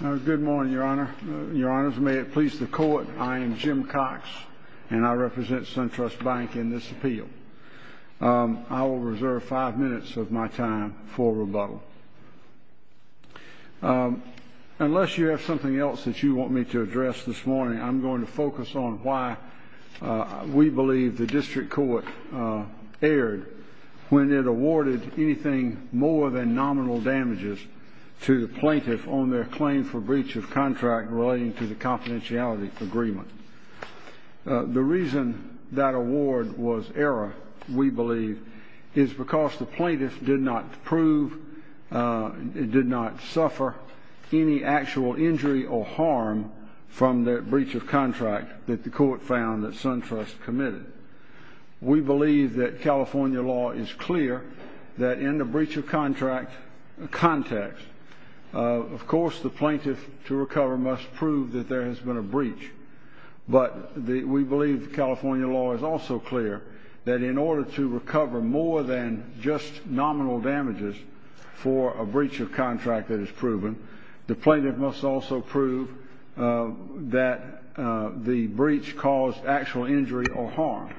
Good morning, Your Honors. May it please the Court, I am Jim Cox, and I represent SunTrust Bank in this appeal. I will reserve five minutes of my time for rebuttal. Unless you have something else that you want me to address this morning, I'm going to focus on why we believe the District Court erred when it awarded anything more than nominal damages to the plaintiff on their claim for breach of contract relating to the confidentiality agreement. The reason that award was error, we believe, is because the plaintiff did not prove, did not suffer any actual injury or harm from that breach of contract that the Court found that SunTrust committed. We believe that California law is clear that in the breach of contract context, of course the plaintiff to recover must prove that there has been a breach. But we believe California law is also clear that in order to recover more than just nominal damages for a breach of contract that is proven, the plaintiff must also prove that the breach caused actual injury or harm.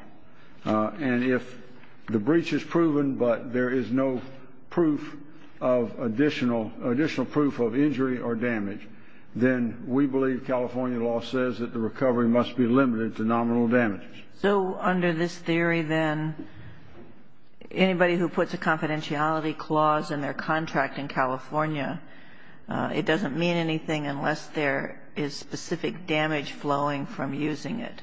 And if the breach is proven but there is no proof of additional, additional proof of injury or damage, then we believe California law says that the recovery must be limited to nominal damages. So under this theory, then, anybody who puts a confidentiality clause in their contract in California, it doesn't mean anything unless there is specific damage flowing from using it.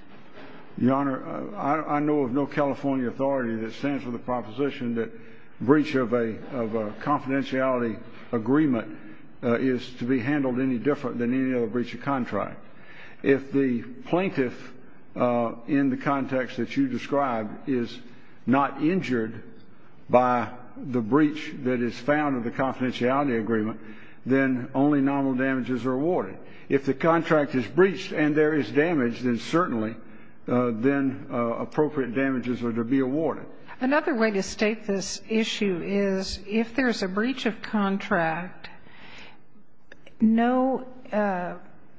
Your Honor, I know of no California authority that stands for the proposition that breach of a confidentiality agreement is to be handled any different than any other breach of contract. If the plaintiff in the context that you described is not injured by the breach that is found in the confidentiality agreement, then only nominal damages are awarded. If the contract is breached and there is damage, then certainly then appropriate damages are to be awarded. Another way to state this issue is if there is a breach of contract, no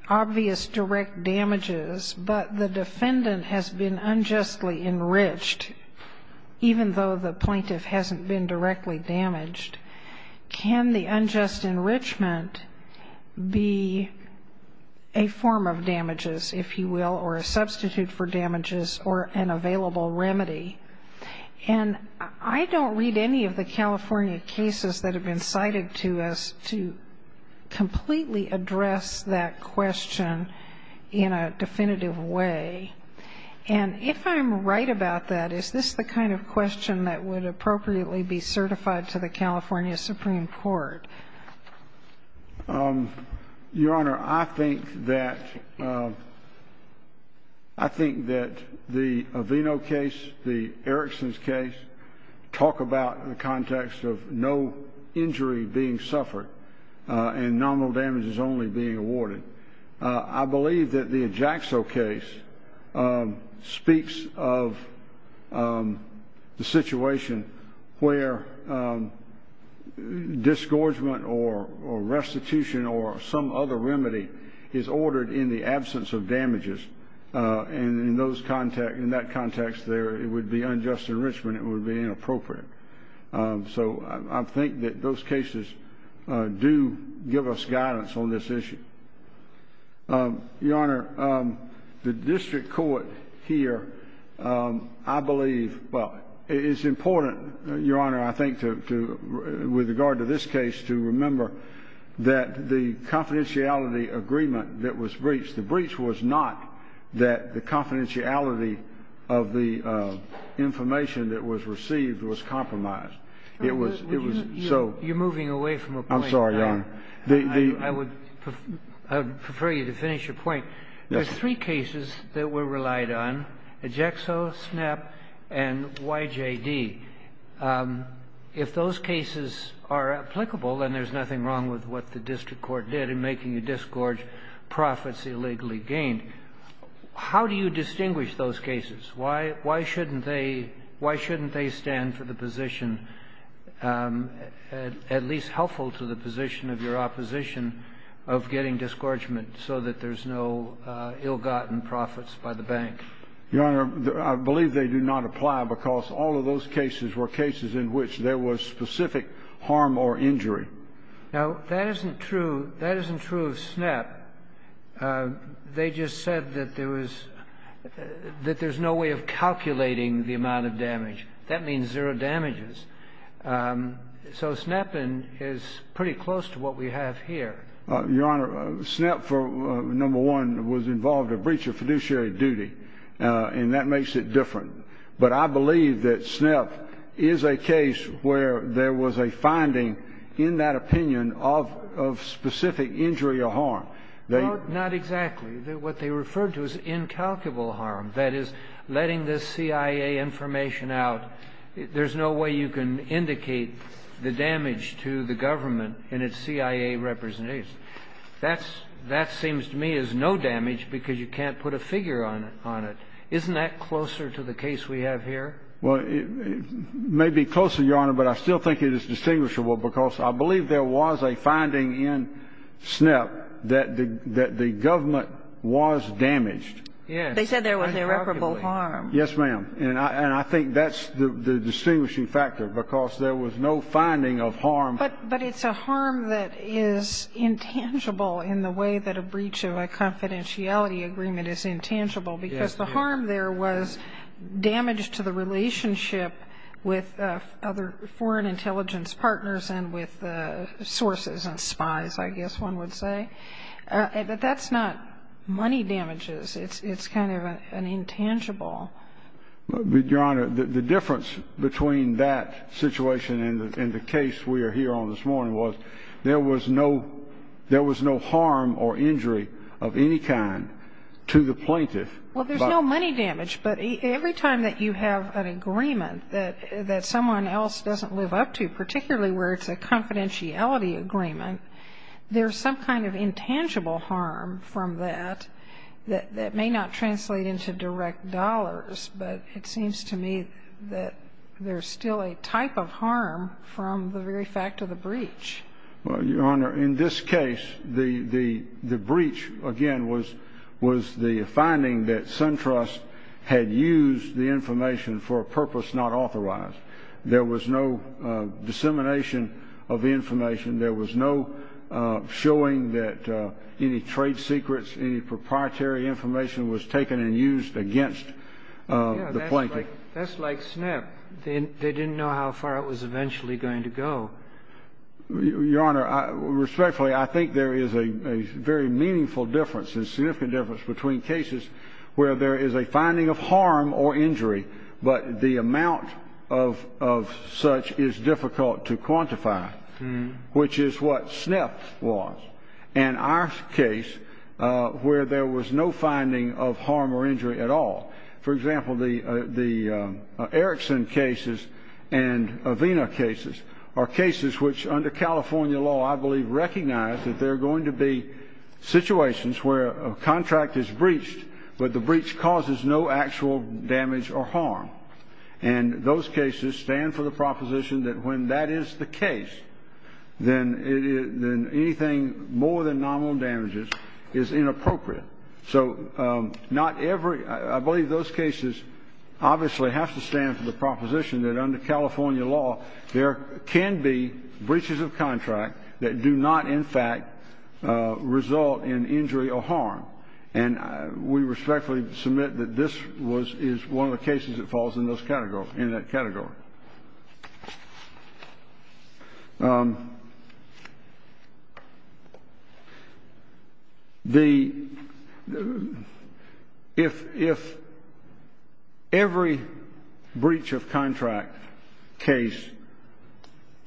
obvious direct damages, but the defendant has been unjustly enriched, even though the plaintiff hasn't been directly damaged, can the unjust enrichment be a form of damages, if you will, or a substitute for damages or an available remedy? And I don't read any of the California cases that have been cited to us completely address that question in a definitive way. And if I'm right about that, is this the kind of question that would appropriately be certified to the California Supreme Court? Your Honor, I think that the Avino case, the Erickson's case, talk about in the context of no injury being suffered and nominal damages only being awarded. I believe that the Ajaxo case speaks of the situation where disgorgement or restitution or some other remedy is ordered in the absence of damages. And in that context, it would be unjust enrichment. It would be inappropriate. So I think that those cases do give us guidance on this issue. Your Honor, the district court here, I believe, well, it is important, Your Honor, I think, with regard to this case to remember that the confidentiality agreement that was breached, the breach was not that the confidentiality of the information that was received was compromised. It was so. You're moving away from a point. I'm sorry, Your Honor. I would prefer you to finish your point. There's three cases that were relied on, Ajaxo, SNAP, and YJD. If those cases are applicable, then there's nothing wrong with what the district court did in making the disgorge profits illegally gained. So I think, how do you distinguish those cases? Why shouldn't they stand for the position, at least helpful to the position of your opposition, of getting disgorgement so that there's no ill-gotten profits by the bank? Your Honor, I believe they do not apply because all of those cases were cases in which there was specific harm or injury. Now, that isn't true. That isn't true of SNAP. They just said that there was no way of calculating the amount of damage. That means zero damages. So SNAP is pretty close to what we have here. Your Honor, SNAP, number one, was involved in a breach of fiduciary duty, and that makes it different. But I believe that SNAP is a case where there was a finding in that opinion of specific injury or harm. Not exactly. What they referred to is incalculable harm, that is, letting the CIA information out. There's no way you can indicate the damage to the government and its CIA representatives. That seems to me as no damage because you can't put a figure on it. Isn't that closer to the case we have here? Well, it may be closer, Your Honor, but I still think it is distinguishable because I believe there was a finding in SNAP that the government was damaged. Yes. They said there was irreparable harm. Yes, ma'am. And I think that's the distinguishing factor because there was no finding of harm. But it's a harm that is intangible in the way that a breach of a confidentiality agreement is intangible because the harm there was damage to the relationship with other foreign intelligence partners and with sources and spies, I guess one would say. But that's not money damages. It's kind of an intangible. Your Honor, the difference between that situation and the case we are here on this morning was there was no harm or injury of any kind to the plaintiff. Well, there's no money damage, but every time that you have an agreement that someone else doesn't live up to, particularly where it's a confidentiality agreement, there's some kind of intangible harm from that that may not translate into direct dollars, but it seems to me that there's still a type of harm from the very fact of the breach. Well, Your Honor, in this case, the breach, again, was the finding that SunTrust had used the information for a purpose not authorized. There was no dissemination of information. There was no showing that any trade secrets, any proprietary information was taken and used against the plaintiff. Yes, that's like SNP. They didn't know how far it was eventually going to go. Your Honor, respectfully, I think there is a very meaningful difference, a significant difference between cases where there is a finding of harm or injury, but the amount of such is difficult to quantify, which is what SNP was, and our case where there was no finding of harm or injury at all. For example, the Erickson cases and Avena cases are cases which under California law, I believe, recognize that there are going to be situations where a contract is breached, but the breach causes no actual damage or harm. And those cases stand for the proposition that when that is the case, then anything more than nominal damages is inappropriate. So not every ñ I believe those cases obviously have to stand for the proposition that under California law, there can be breaches of contract that do not, in fact, result in injury or harm. And we respectfully submit that this was ñ is one of the cases that falls in those categories, in that category. The ñ if every breach of contract case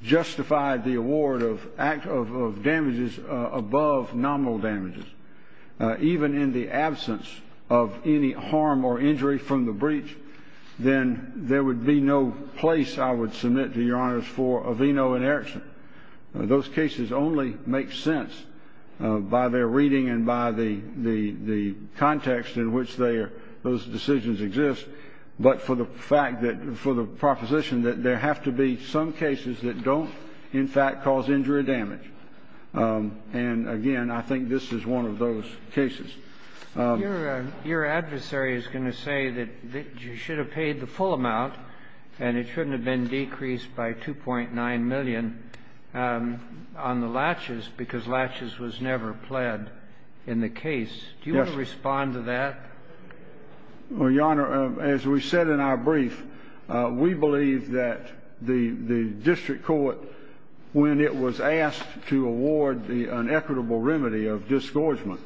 justified the award of damages above nominal damages, even in the absence of any harm or injury from the breach, then there would be no place, I would submit to Your Honors, for Aveno and Erickson. Those cases only make sense by their reading and by the context in which they are ñ those decisions exist, but for the fact that ñ for the proposition that there have to be some cases that don't, in fact, cause injury or damage. And, again, I think this is one of those cases. Your adversary is going to say that you should have paid the full amount and it shouldn't have been decreased by $2.9 million on the latches because latches was never pled in the case. Yes. Do you want to respond to that? Well, Your Honor, as we said in our brief, we believe that the district court, when it was asked to award an equitable remedy of discouragement,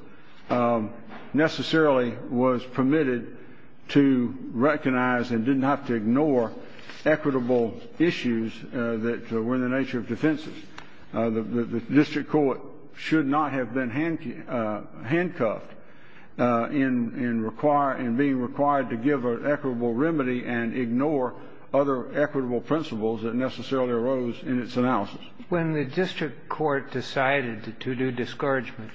necessarily was permitted to recognize and didn't have to ignore equitable issues that were in the nature of defenses. The district court should not have been handcuffed in being required to give an equitable remedy and ignore other equitable principles that necessarily arose in its analysis. When the district court decided to do discouragement,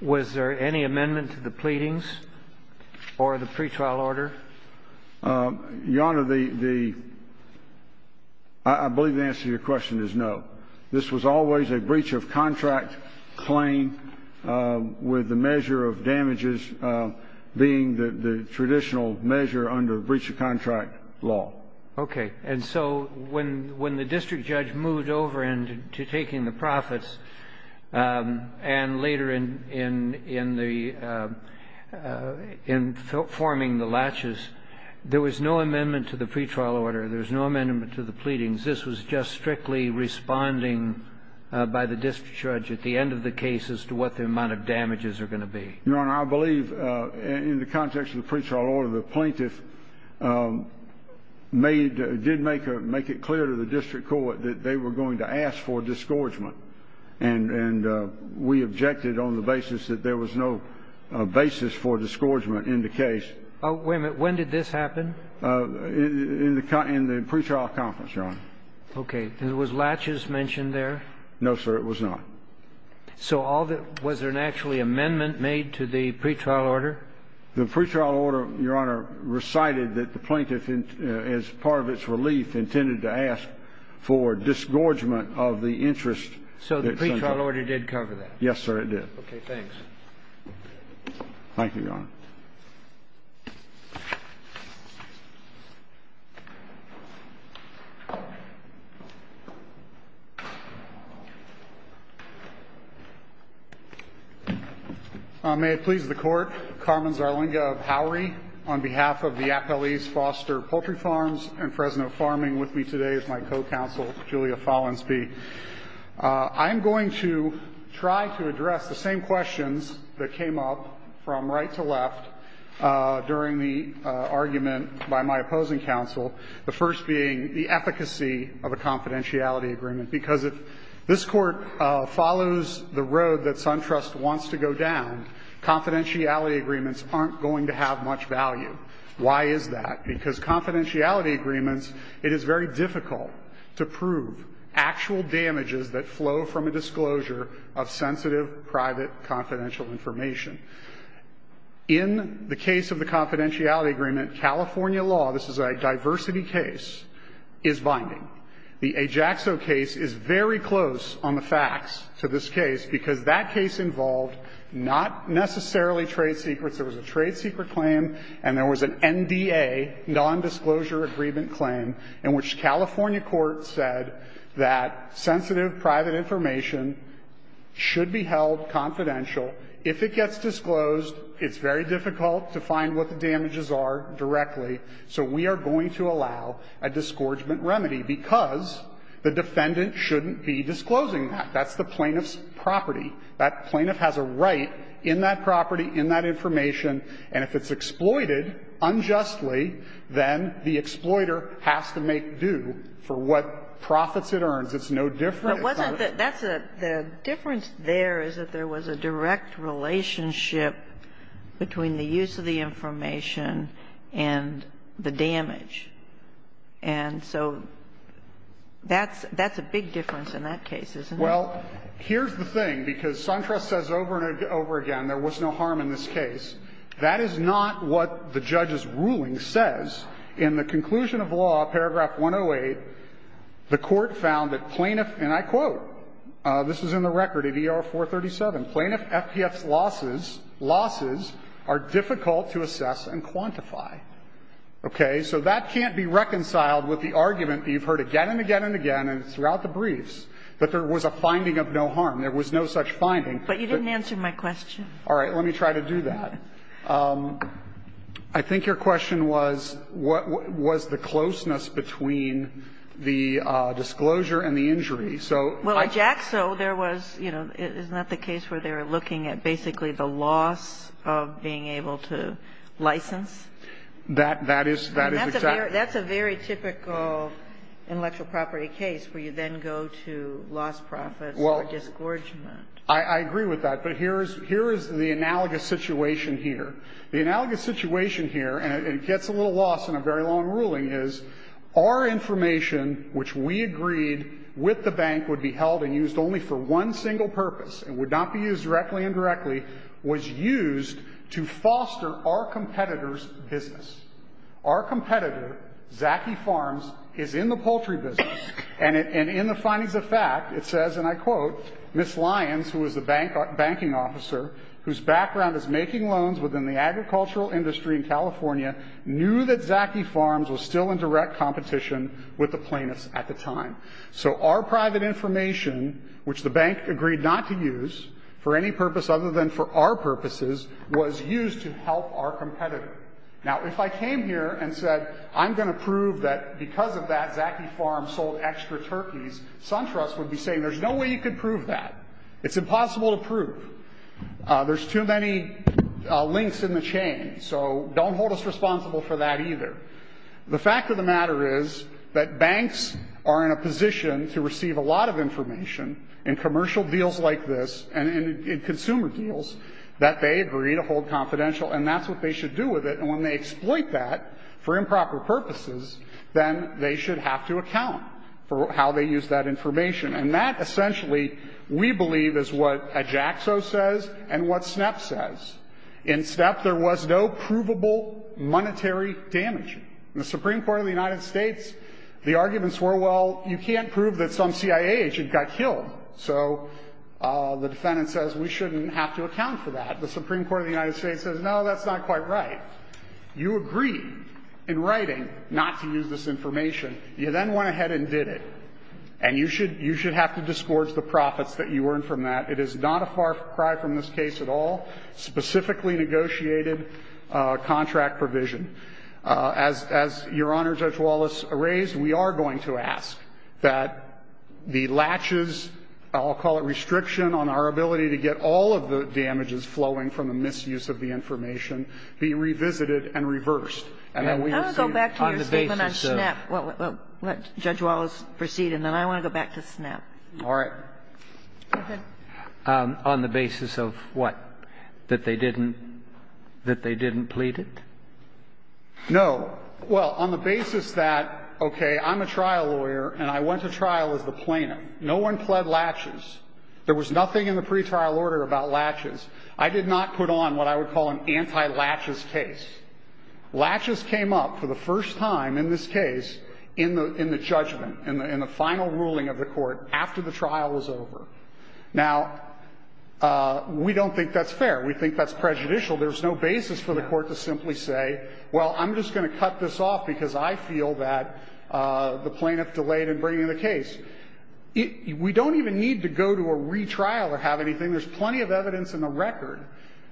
was there any amendment to the pleadings or the pretrial order? Your Honor, the ñ I believe the answer to your question is no. This was always a breach of contract claim with the measure of damages being the traditional measure under breach of contract law. Okay. And so when the district judge moved over into taking the profits and later in the ñ in forming the latches, there was no amendment to the pretrial order. There was no amendment to the pleadings. This was just strictly responding by the district judge at the end of the case as to what the amount of damages are going to be. Your Honor, I believe in the context of the pretrial order, the plaintiff made ñ did make a ñ make it clear to the district court that they were going to ask for discouragement. And we objected on the basis that there was no basis for discouragement in the case. Wait a minute. When did this happen? In the pretrial conference, Your Honor. Okay. And was latches mentioned there? No, sir. It was not. So all that ñ was there an actual amendment made to the pretrial order? The pretrial order, Your Honor, recited that the plaintiff, as part of its relief, intended to ask for disgorgement of the interest that ñ So the pretrial order did cover that? Yes, sir, it did. Okay. Thanks. Thank you, Your Honor. May it please the Court, Carmen Zarlinga of Howery, on behalf of the Appellees Foster Poultry Farms and Fresno Farming, with me today is my co-counsel, Julia Follansbee. I am going to try to address the same questions that came up from right to left in the argument by my opposing counsel, the first being the efficacy of a confidentiality agreement, because if this Court follows the road that SunTrust wants to go down, confidentiality agreements aren't going to have much value. Why is that? Because confidentiality agreements, it is very difficult to prove actual damages that flow from a disclosure of sensitive private confidential information. In the case of the confidentiality agreement, California law, this is a diversity case, is binding. The Ajaxo case is very close on the facts to this case because that case involved not necessarily trade secrets. There was a trade secret claim and there was an NDA, nondisclosure agreement claim, in which California court said that sensitive private information should be held confidential. If it gets disclosed, it's very difficult to find what the damages are directly, so we are going to allow a disgorgement remedy because the defendant shouldn't be disclosing that. That's the plaintiff's property. That plaintiff has a right in that property, in that information, and if it's exploited unjustly, then the exploiter has to make due for what profits it earns. It's no different. It's not a separate case. But wasn't the – that's a – the difference there is that there was a direct relationship between the use of the information and the damage, and so that's – that's a big difference in that case, isn't it? Well, here's the thing, because Suntra says over and over again there was no harm in this case. That is not what the judge's ruling says. In the conclusion of law, paragraph 108, the Court found that plaintiff – and I quote, this is in the record of ER-437 – "...plaintiff's losses are difficult to assess and quantify." Okay? So that can't be reconciled with the argument that you've heard again and again and again and throughout the briefs that there was a finding of no harm. There was no such finding. But you didn't answer my question. All right. Let me try to do that. I think your question was, what was the closeness between the disclosure and the injury? So – Well, at JAXA, there was – you know, isn't that the case where they were looking at basically the loss of being able to license? That is – that is exactly – That's a very typical intellectual property case where you then go to loss profits or disgorgement. I agree with that. But here is – here is the analogous situation here. The analogous situation here – and it gets a little lost in a very long ruling – is our information, which we agreed with the bank would be held and used only for one single purpose and would not be used directly, indirectly, was used to foster our competitor's business. Our competitor, Zaki Farms, is in the poultry business. And in the findings of fact, it says, and I quote, Ms. Lyons, who is the banking officer, whose background is making loans within the agricultural industry in California, knew that Zaki Farms was still in direct competition with the plaintiffs at the time. So our private information, which the bank agreed not to use for any purpose other than for our purposes, was used to help our competitor. Now, if I came here and said, I'm going to prove that because of that Zaki Farms sold extra turkeys, SunTrust would be saying, there's no way you could prove that. It's impossible to prove. There's too many links in the chain, so don't hold us responsible for that either. The fact of the matter is that banks are in a position to receive a lot of information in commercial deals like this and in consumer deals that they agree to hold confidential, and that's what they should do with it. And when they exploit that for improper purposes, then they should have to account for how they use that information. And that, essentially, we believe is what Ajaxo says and what SNEP says. In SNEP, there was no provable monetary damage. In the Supreme Court of the United States, the arguments were, well, you can't prove that some CIA agent got killed. So the defendant says, we shouldn't have to account for that. The Supreme Court of the United States says, no, that's not quite right. You agree in writing not to use this information. You then went ahead and did it. And you should have to disgorge the profits that you earn from that. It is not a far cry from this case at all, specifically negotiated contract provision. As Your Honor, Judge Wallace raised, we are going to ask that the latches, I'll call it restriction on our ability to get all of the damages flowing from the misuse of the information, be revisited and reversed. And that we receive on the basis of the law. Kagan. I want to go back to your statement on SNEP. Well, let Judge Wallace proceed, and then I want to go back to SNEP. All right. Go ahead. On the basis of what? That they didn't plead it? No. Well, on the basis that, okay, I'm a trial lawyer, and I went to trial as the plaintiff. No one pled latches. There was nothing in the pretrial order about latches. I did not put on what I would call an anti-latches case. Latches came up for the first time in this case in the judgment, in the final ruling of the court, after the trial was over. Now, we don't think that's fair. We think that's prejudicial. There's no basis for the court to simply say, well, I'm just going to cut this off because I feel that the plaintiff delayed in bringing the case. We don't even need to go to a retrial or have anything. There's plenty of evidence in the record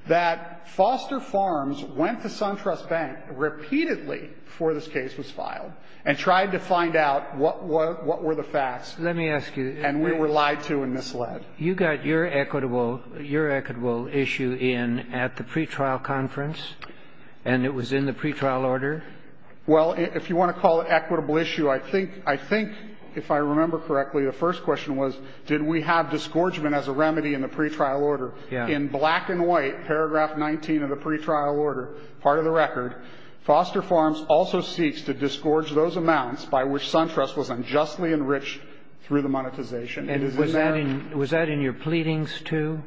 that Foster Farms went to SunTrust Bank repeatedly before this case was filed and tried to find out what were the facts. Let me ask you. And we were lied to and misled. You got your equitable issue in at the pretrial conference, and it was in the pretrial order? Well, if you want to call it equitable issue, I think, if I remember correctly, the first question was, did we have disgorgement as a remedy in the pretrial order? In black and white, paragraph 19 of the pretrial order, part of the record, Foster Farms also seeks to disgorge those amounts by which SunTrust was unjustly enriched through the monetization. And is in there Was that in your pleadings, too?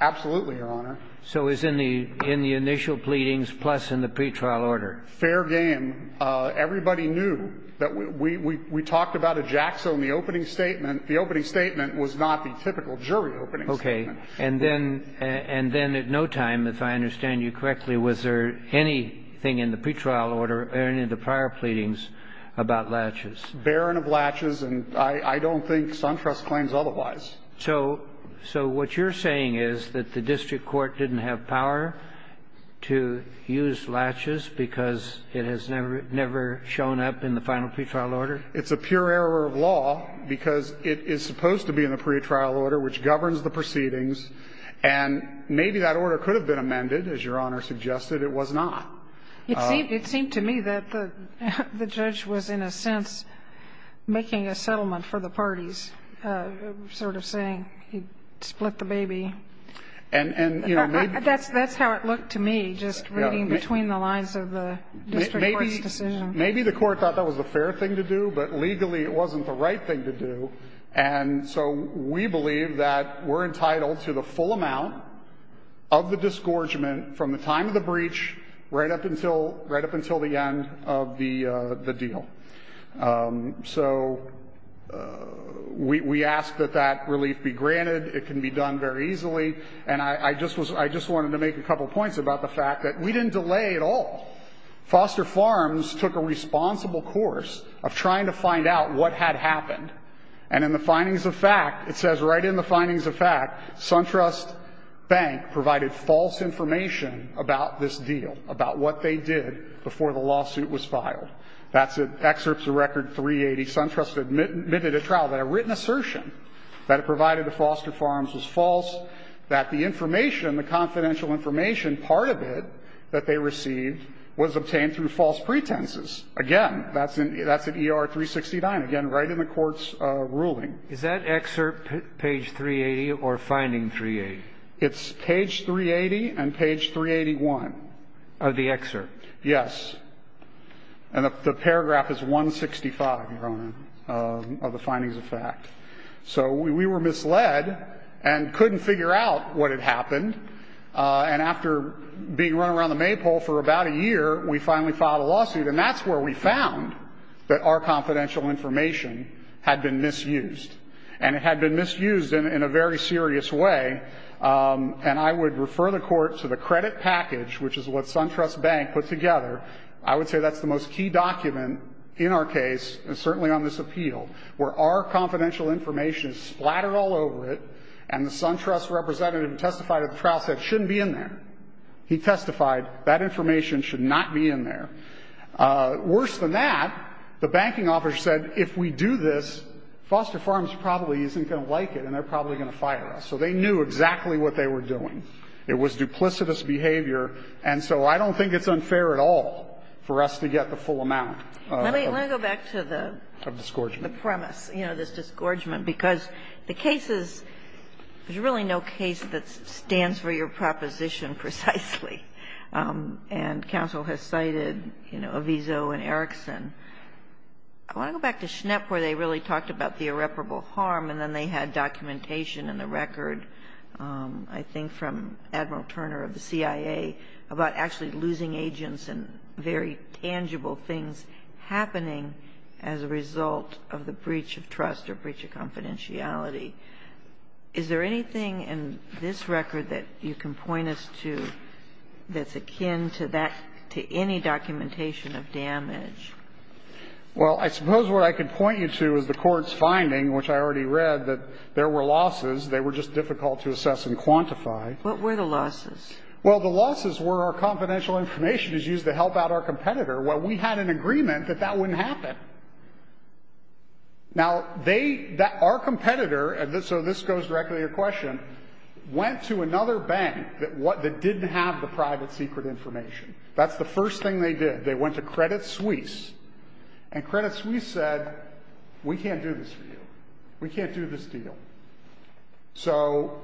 Absolutely, Your Honor. So it's in the initial pleadings plus in the pretrial order? Fair game. Everybody knew that we talked about a jacksaw in the opening statement. The opening statement was not the typical jury opening statement. Okay. And then at no time, if I understand you correctly, was there anything in the pretrial order or any of the prior pleadings about latches? Barren of latches, and I don't think SunTrust claims otherwise. So what you're saying is that the district court didn't have power to use latches because it has never shown up in the final pretrial order? It's a pure error of law because it is supposed to be in the pretrial order, which governs the proceedings. And maybe that order could have been amended. As Your Honor suggested, it was not. It seemed to me that the judge was, in a sense, making a settlement for the parties, sort of saying he split the baby. And, you know, maybe That's how it looked to me, just reading between the lines of the district court's decision. Maybe the court thought that was a fair thing to do, but legally it wasn't the right thing to do. And so we believe that we're entitled to the full amount of the disgorgement from the time of the breach right up until the end of the deal. So we ask that that relief be granted. It can be done very easily. And I just wanted to make a couple of points about the fact that we didn't delay at all. Foster Farms took a responsible course of trying to find out what had happened. And in the findings of fact, it says right in the findings of fact, SunTrust Bank provided false information about this deal, about what they did before the lawsuit was filed. That's at Excerpts of Record 380, SunTrust admitted at trial that a written assertion that it provided to Foster Farms was false, that the information, the confidential information, part of it that they received was obtained through false pretenses. Again, that's at ER 369, again, right in the court's ruling. Is that excerpt page 380 or finding 380? It's page 380 and page 381. Of the excerpt? Yes. And the paragraph is 165, your Honor, of the findings of fact. So we were misled and couldn't figure out what had happened. And after being run around the Maypole for about a year, we finally filed a lawsuit. And that's where we found that our confidential information had been misused. And it had been misused in a very serious way. And I would refer the court to the credit package, which is what SunTrust Bank put together. I would say that's the most key document in our case, and certainly on this appeal, where our confidential information is splattered all over it. And the SunTrust representative who testified at the trial said, shouldn't be in there. He testified, that information should not be in there. Worse than that, the banking officer said, if we do this, Foster Farms probably isn't going to like it, and they're probably going to fire us. So they knew exactly what they were doing. It was duplicitous behavior. And so I don't think it's unfair at all for us to get the full amount of- Let me go back to the- Of disgorgement. The premise, you know, this disgorgement, because the case is – there's really no case that stands for your proposition precisely. And counsel has cited, you know, Aviso and Erickson. I want to go back to Schnepp, where they really talked about the irreparable harm, and then they had documentation in the record, I think from Admiral Turner of the CIA, about actually losing agents and very tangible things happening as a result of the breach of trust or breach of confidentiality. Is there anything in this record that you can point us to that's akin to that – to any documentation of damage? Well, I suppose what I can point you to is the Court's finding, which I already read, that there were losses. They were just difficult to assess and quantify. What were the losses? Well, the losses were our confidential information is used to help out our competitor. Well, we had an agreement that that wouldn't happen. Now, they – our competitor – and so this goes directly to your question – went to another bank that didn't have the private secret information. That's the first thing they did. They went to Credit Suisse, and Credit Suisse said, we can't do this for you. We can't do this deal. So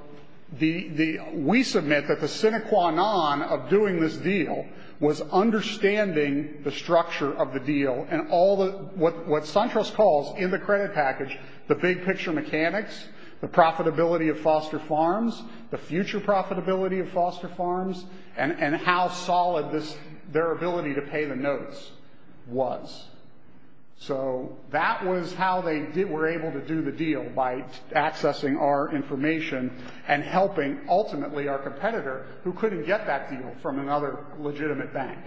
the – we submit that the sine qua non of doing this deal was understanding the structure of the deal and all the – what SunTrust calls in the credit package the big picture mechanics, the profitability of foster farms, the future profitability of foster farms, and how solid this – their ability to pay the notes was. So that was how they were able to do the deal, by accessing our information and helping ultimately our competitor, who couldn't get that deal from another legitimate bank.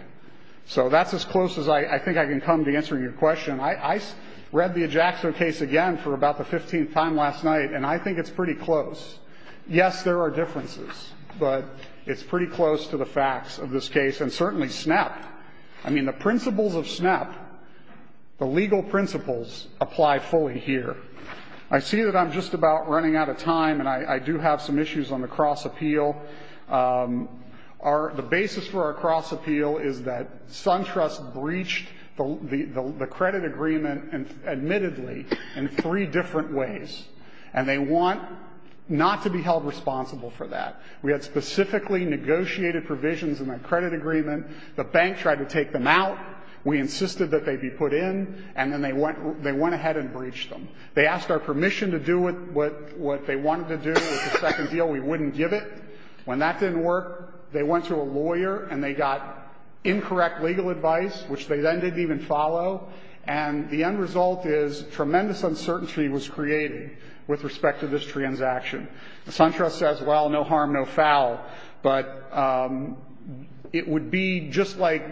So that's as close as I think I can come to answering your question. I read the Ajaxo case again for about the 15th time last night, and I think it's pretty close. Yes, there are differences, but it's pretty close to the facts of this case, and certainly SNAP – I mean, the principles of SNAP, the legal principles, apply fully here. I see that I'm just about running out of time, and I do have some issues on the cross appeal. The basis for our cross appeal is that SunTrust breached the credit agreement, admittedly, in three different ways, and they want not to be held responsible for that. We had specifically negotiated provisions in the credit agreement. The bank tried to take them out. We insisted that they be put in, and then they went ahead and breached them. They asked our permission to do what they wanted to do with the second deal. We wouldn't give it. When that didn't work, they went to a lawyer, and they got incorrect legal advice, which they then didn't even follow, and the end result is tremendous uncertainty was created with respect to this transaction. SunTrust says, well, no harm, no foul, but it would be just like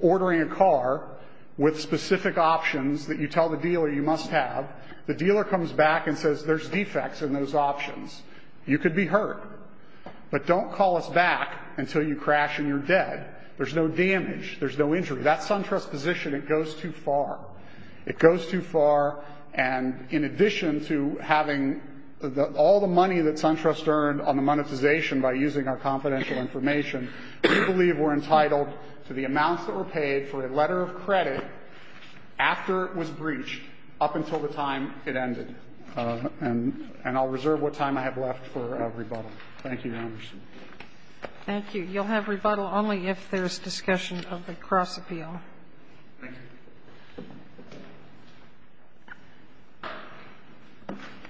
ordering a car with specific options that you tell the dealer you must have. The dealer comes back and says, there's defects in those options. You could be hurt, but don't call us back until you crash and you're dead. There's no damage. There's no injury. That's SunTrust's position. It goes too far. It goes too far, and in addition to having all the money that SunTrust earned on the monetization by using our confidential information, we believe we're entitled to the amounts that were paid for a letter of credit after it was breached up until the time it ended. And I'll reserve what time I have left for rebuttal. Thank you, Your Honors. Thank you. You'll have rebuttal only if there's discussion of the cross-appeal. Thank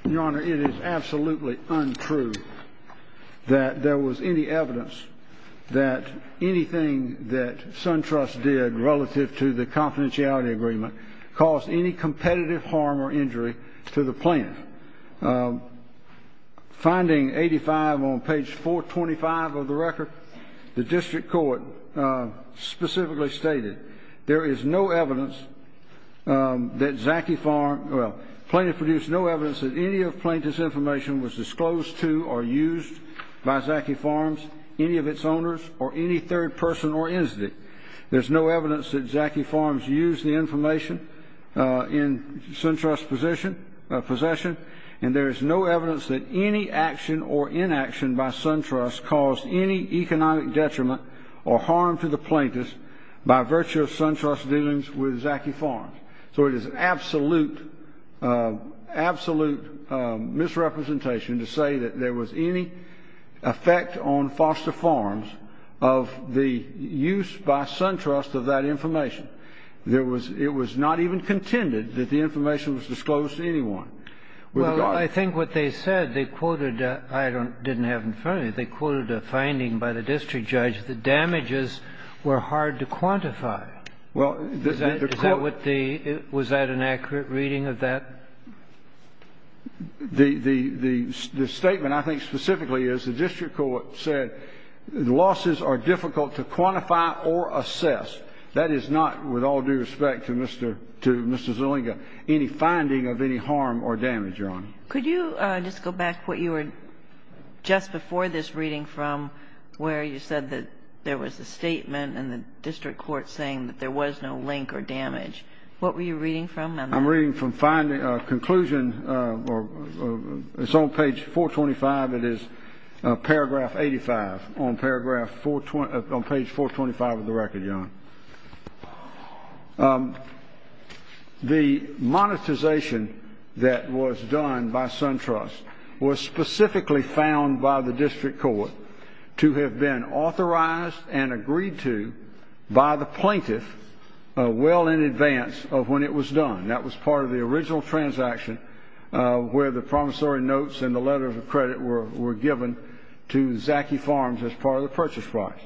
you. Your Honor, it is absolutely untrue that there was any evidence that anything that SunTrust did relative to the confidentiality agreement caused any competitive harm or injury to the plaintiff. Finding 85 on page 425 of the record, the district court specifically stated, there is no evidence that Zaki Farms, well, plaintiff produced no evidence that any of plaintiff's information was disclosed to or used by Zaki Farms, any of its owners, or any third person or entity. There's no evidence that Zaki Farms used the information in SunTrust's possession, and there is no evidence that any action or inaction by SunTrust caused any economic detriment or harm to the plaintiff by virtue of SunTrust's dealings with Zaki Farms. So it is absolute, absolute misrepresentation to say that there was any effect on Foster Farms of the use by SunTrust of that information. There was — it was not even contended that the information was disclosed to anyone. Well, I think what they said, they quoted — I didn't have it in front of me. They quoted a finding by the district judge that damages were hard to quantify. Well, the court — Is that what the — was that an accurate reading of that? The statement, I think, specifically is the district court said the losses are difficult to quantify or assess. That is not, with all due respect to Mr. Zuliga, any finding of any harm or damage, Your Honor. Could you just go back to what you were just before this reading from, where you said that there was a statement in the district court saying that there was no link or damage. What were you reading from on that? I'm reading from finding — conclusion — it's on page 425. It is paragraph 85 on paragraph 4 — on page 425 of the record, Your Honor. The monetization that was done by SunTrust was specifically found by the district court to have been authorized and agreed to by the plaintiff well in advance of when it was done. That was part of the original transaction where the promissory notes and the letter of credit were given to Zaki Farms as part of the purchase price.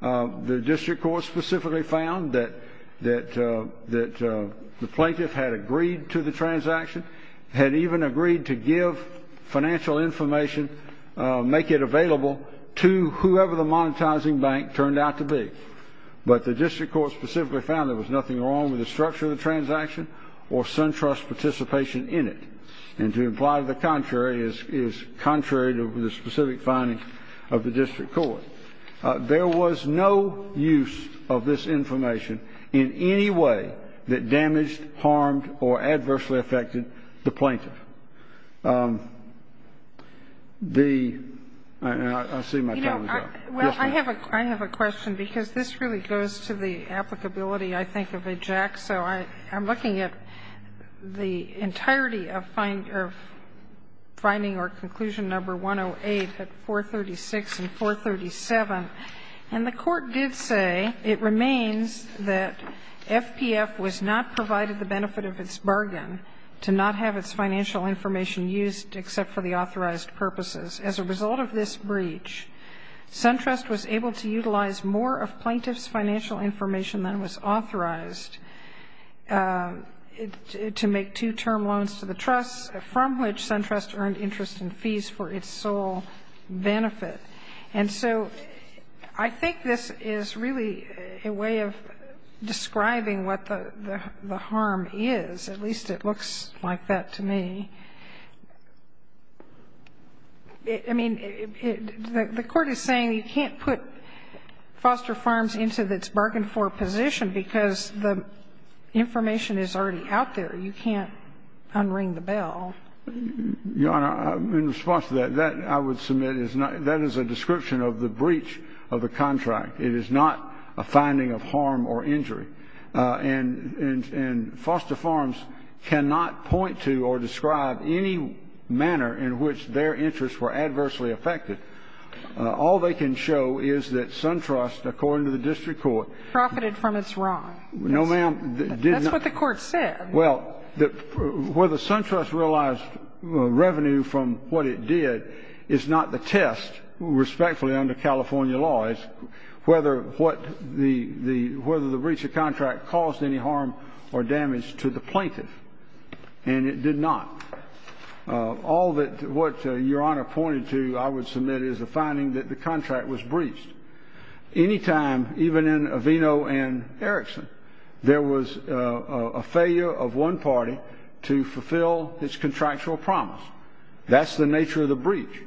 The district court specifically found that the plaintiff had agreed to the transaction, had even agreed to give financial information, make it available to whoever the monetizing bank turned out to be. But the district court specifically found there was nothing wrong with the structure of the transaction or SunTrust participation in it. And to imply the contrary is contrary to the specific findings of the district court. There was no use of this information in any way that damaged, harmed, or adversely affected the plaintiff. The — and I see my time is up. Yes, ma'am. Well, I have a question, because this really goes to the applicability, I think, of EJAC. So I'm looking at the entirety of finding or conclusion number 108 at 436 and 437. And the court did say, it remains that FPF was not provided the benefit of its bargain to not have its financial information used except for the authorized purposes. As a result of this breach, SunTrust was able to utilize more of plaintiff's financial information than was authorized to make two-term loans to the trust, from which SunTrust earned interest and fees for its sole benefit. And so I think this is really a way of describing what the harm is. At least it looks like that to me. I mean, the court is saying you can't put Foster Farms into its bargain-for position because the information is already out there. You can't unring the bell. Your Honor, in response to that, that, I would submit, is not — that is a description of the breach of the contract. It is not a finding of harm or injury. And Foster Farms cannot point to or describe any manner in which their interests were adversely affected. All they can show is that SunTrust, according to the district court — Profited from its wrong. No, ma'am. That's what the court said. Well, whether SunTrust realized revenue from what it did is not the test, respectfully, under California law. It's whether what the — whether the breach of contract caused any harm or damage to the plaintiff. And it did not. All that — what Your Honor pointed to, I would submit, is the finding that the contract was breached. Any time, even in Aveno and Erickson, there was a failure of one party to fulfill its contractual promise. That's the nature of the breach.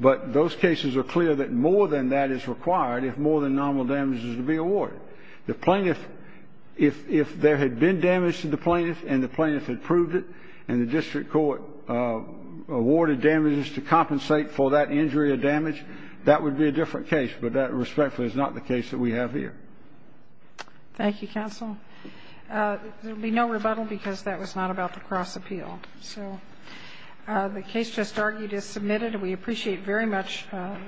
But those cases are clear that more than that is required if more than nominal damage is to be awarded. The plaintiff — if there had been damage to the plaintiff and the plaintiff had proved it and the district court awarded damages to compensate for that injury or damage, that would be a different case. But that, respectfully, is not the case that we have here. Thank you, counsel. There will be no rebuttal because that was not about the cross-appeal. So the case just argued is submitted. And we appreciate very much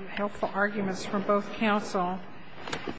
helpful arguments from both counsel.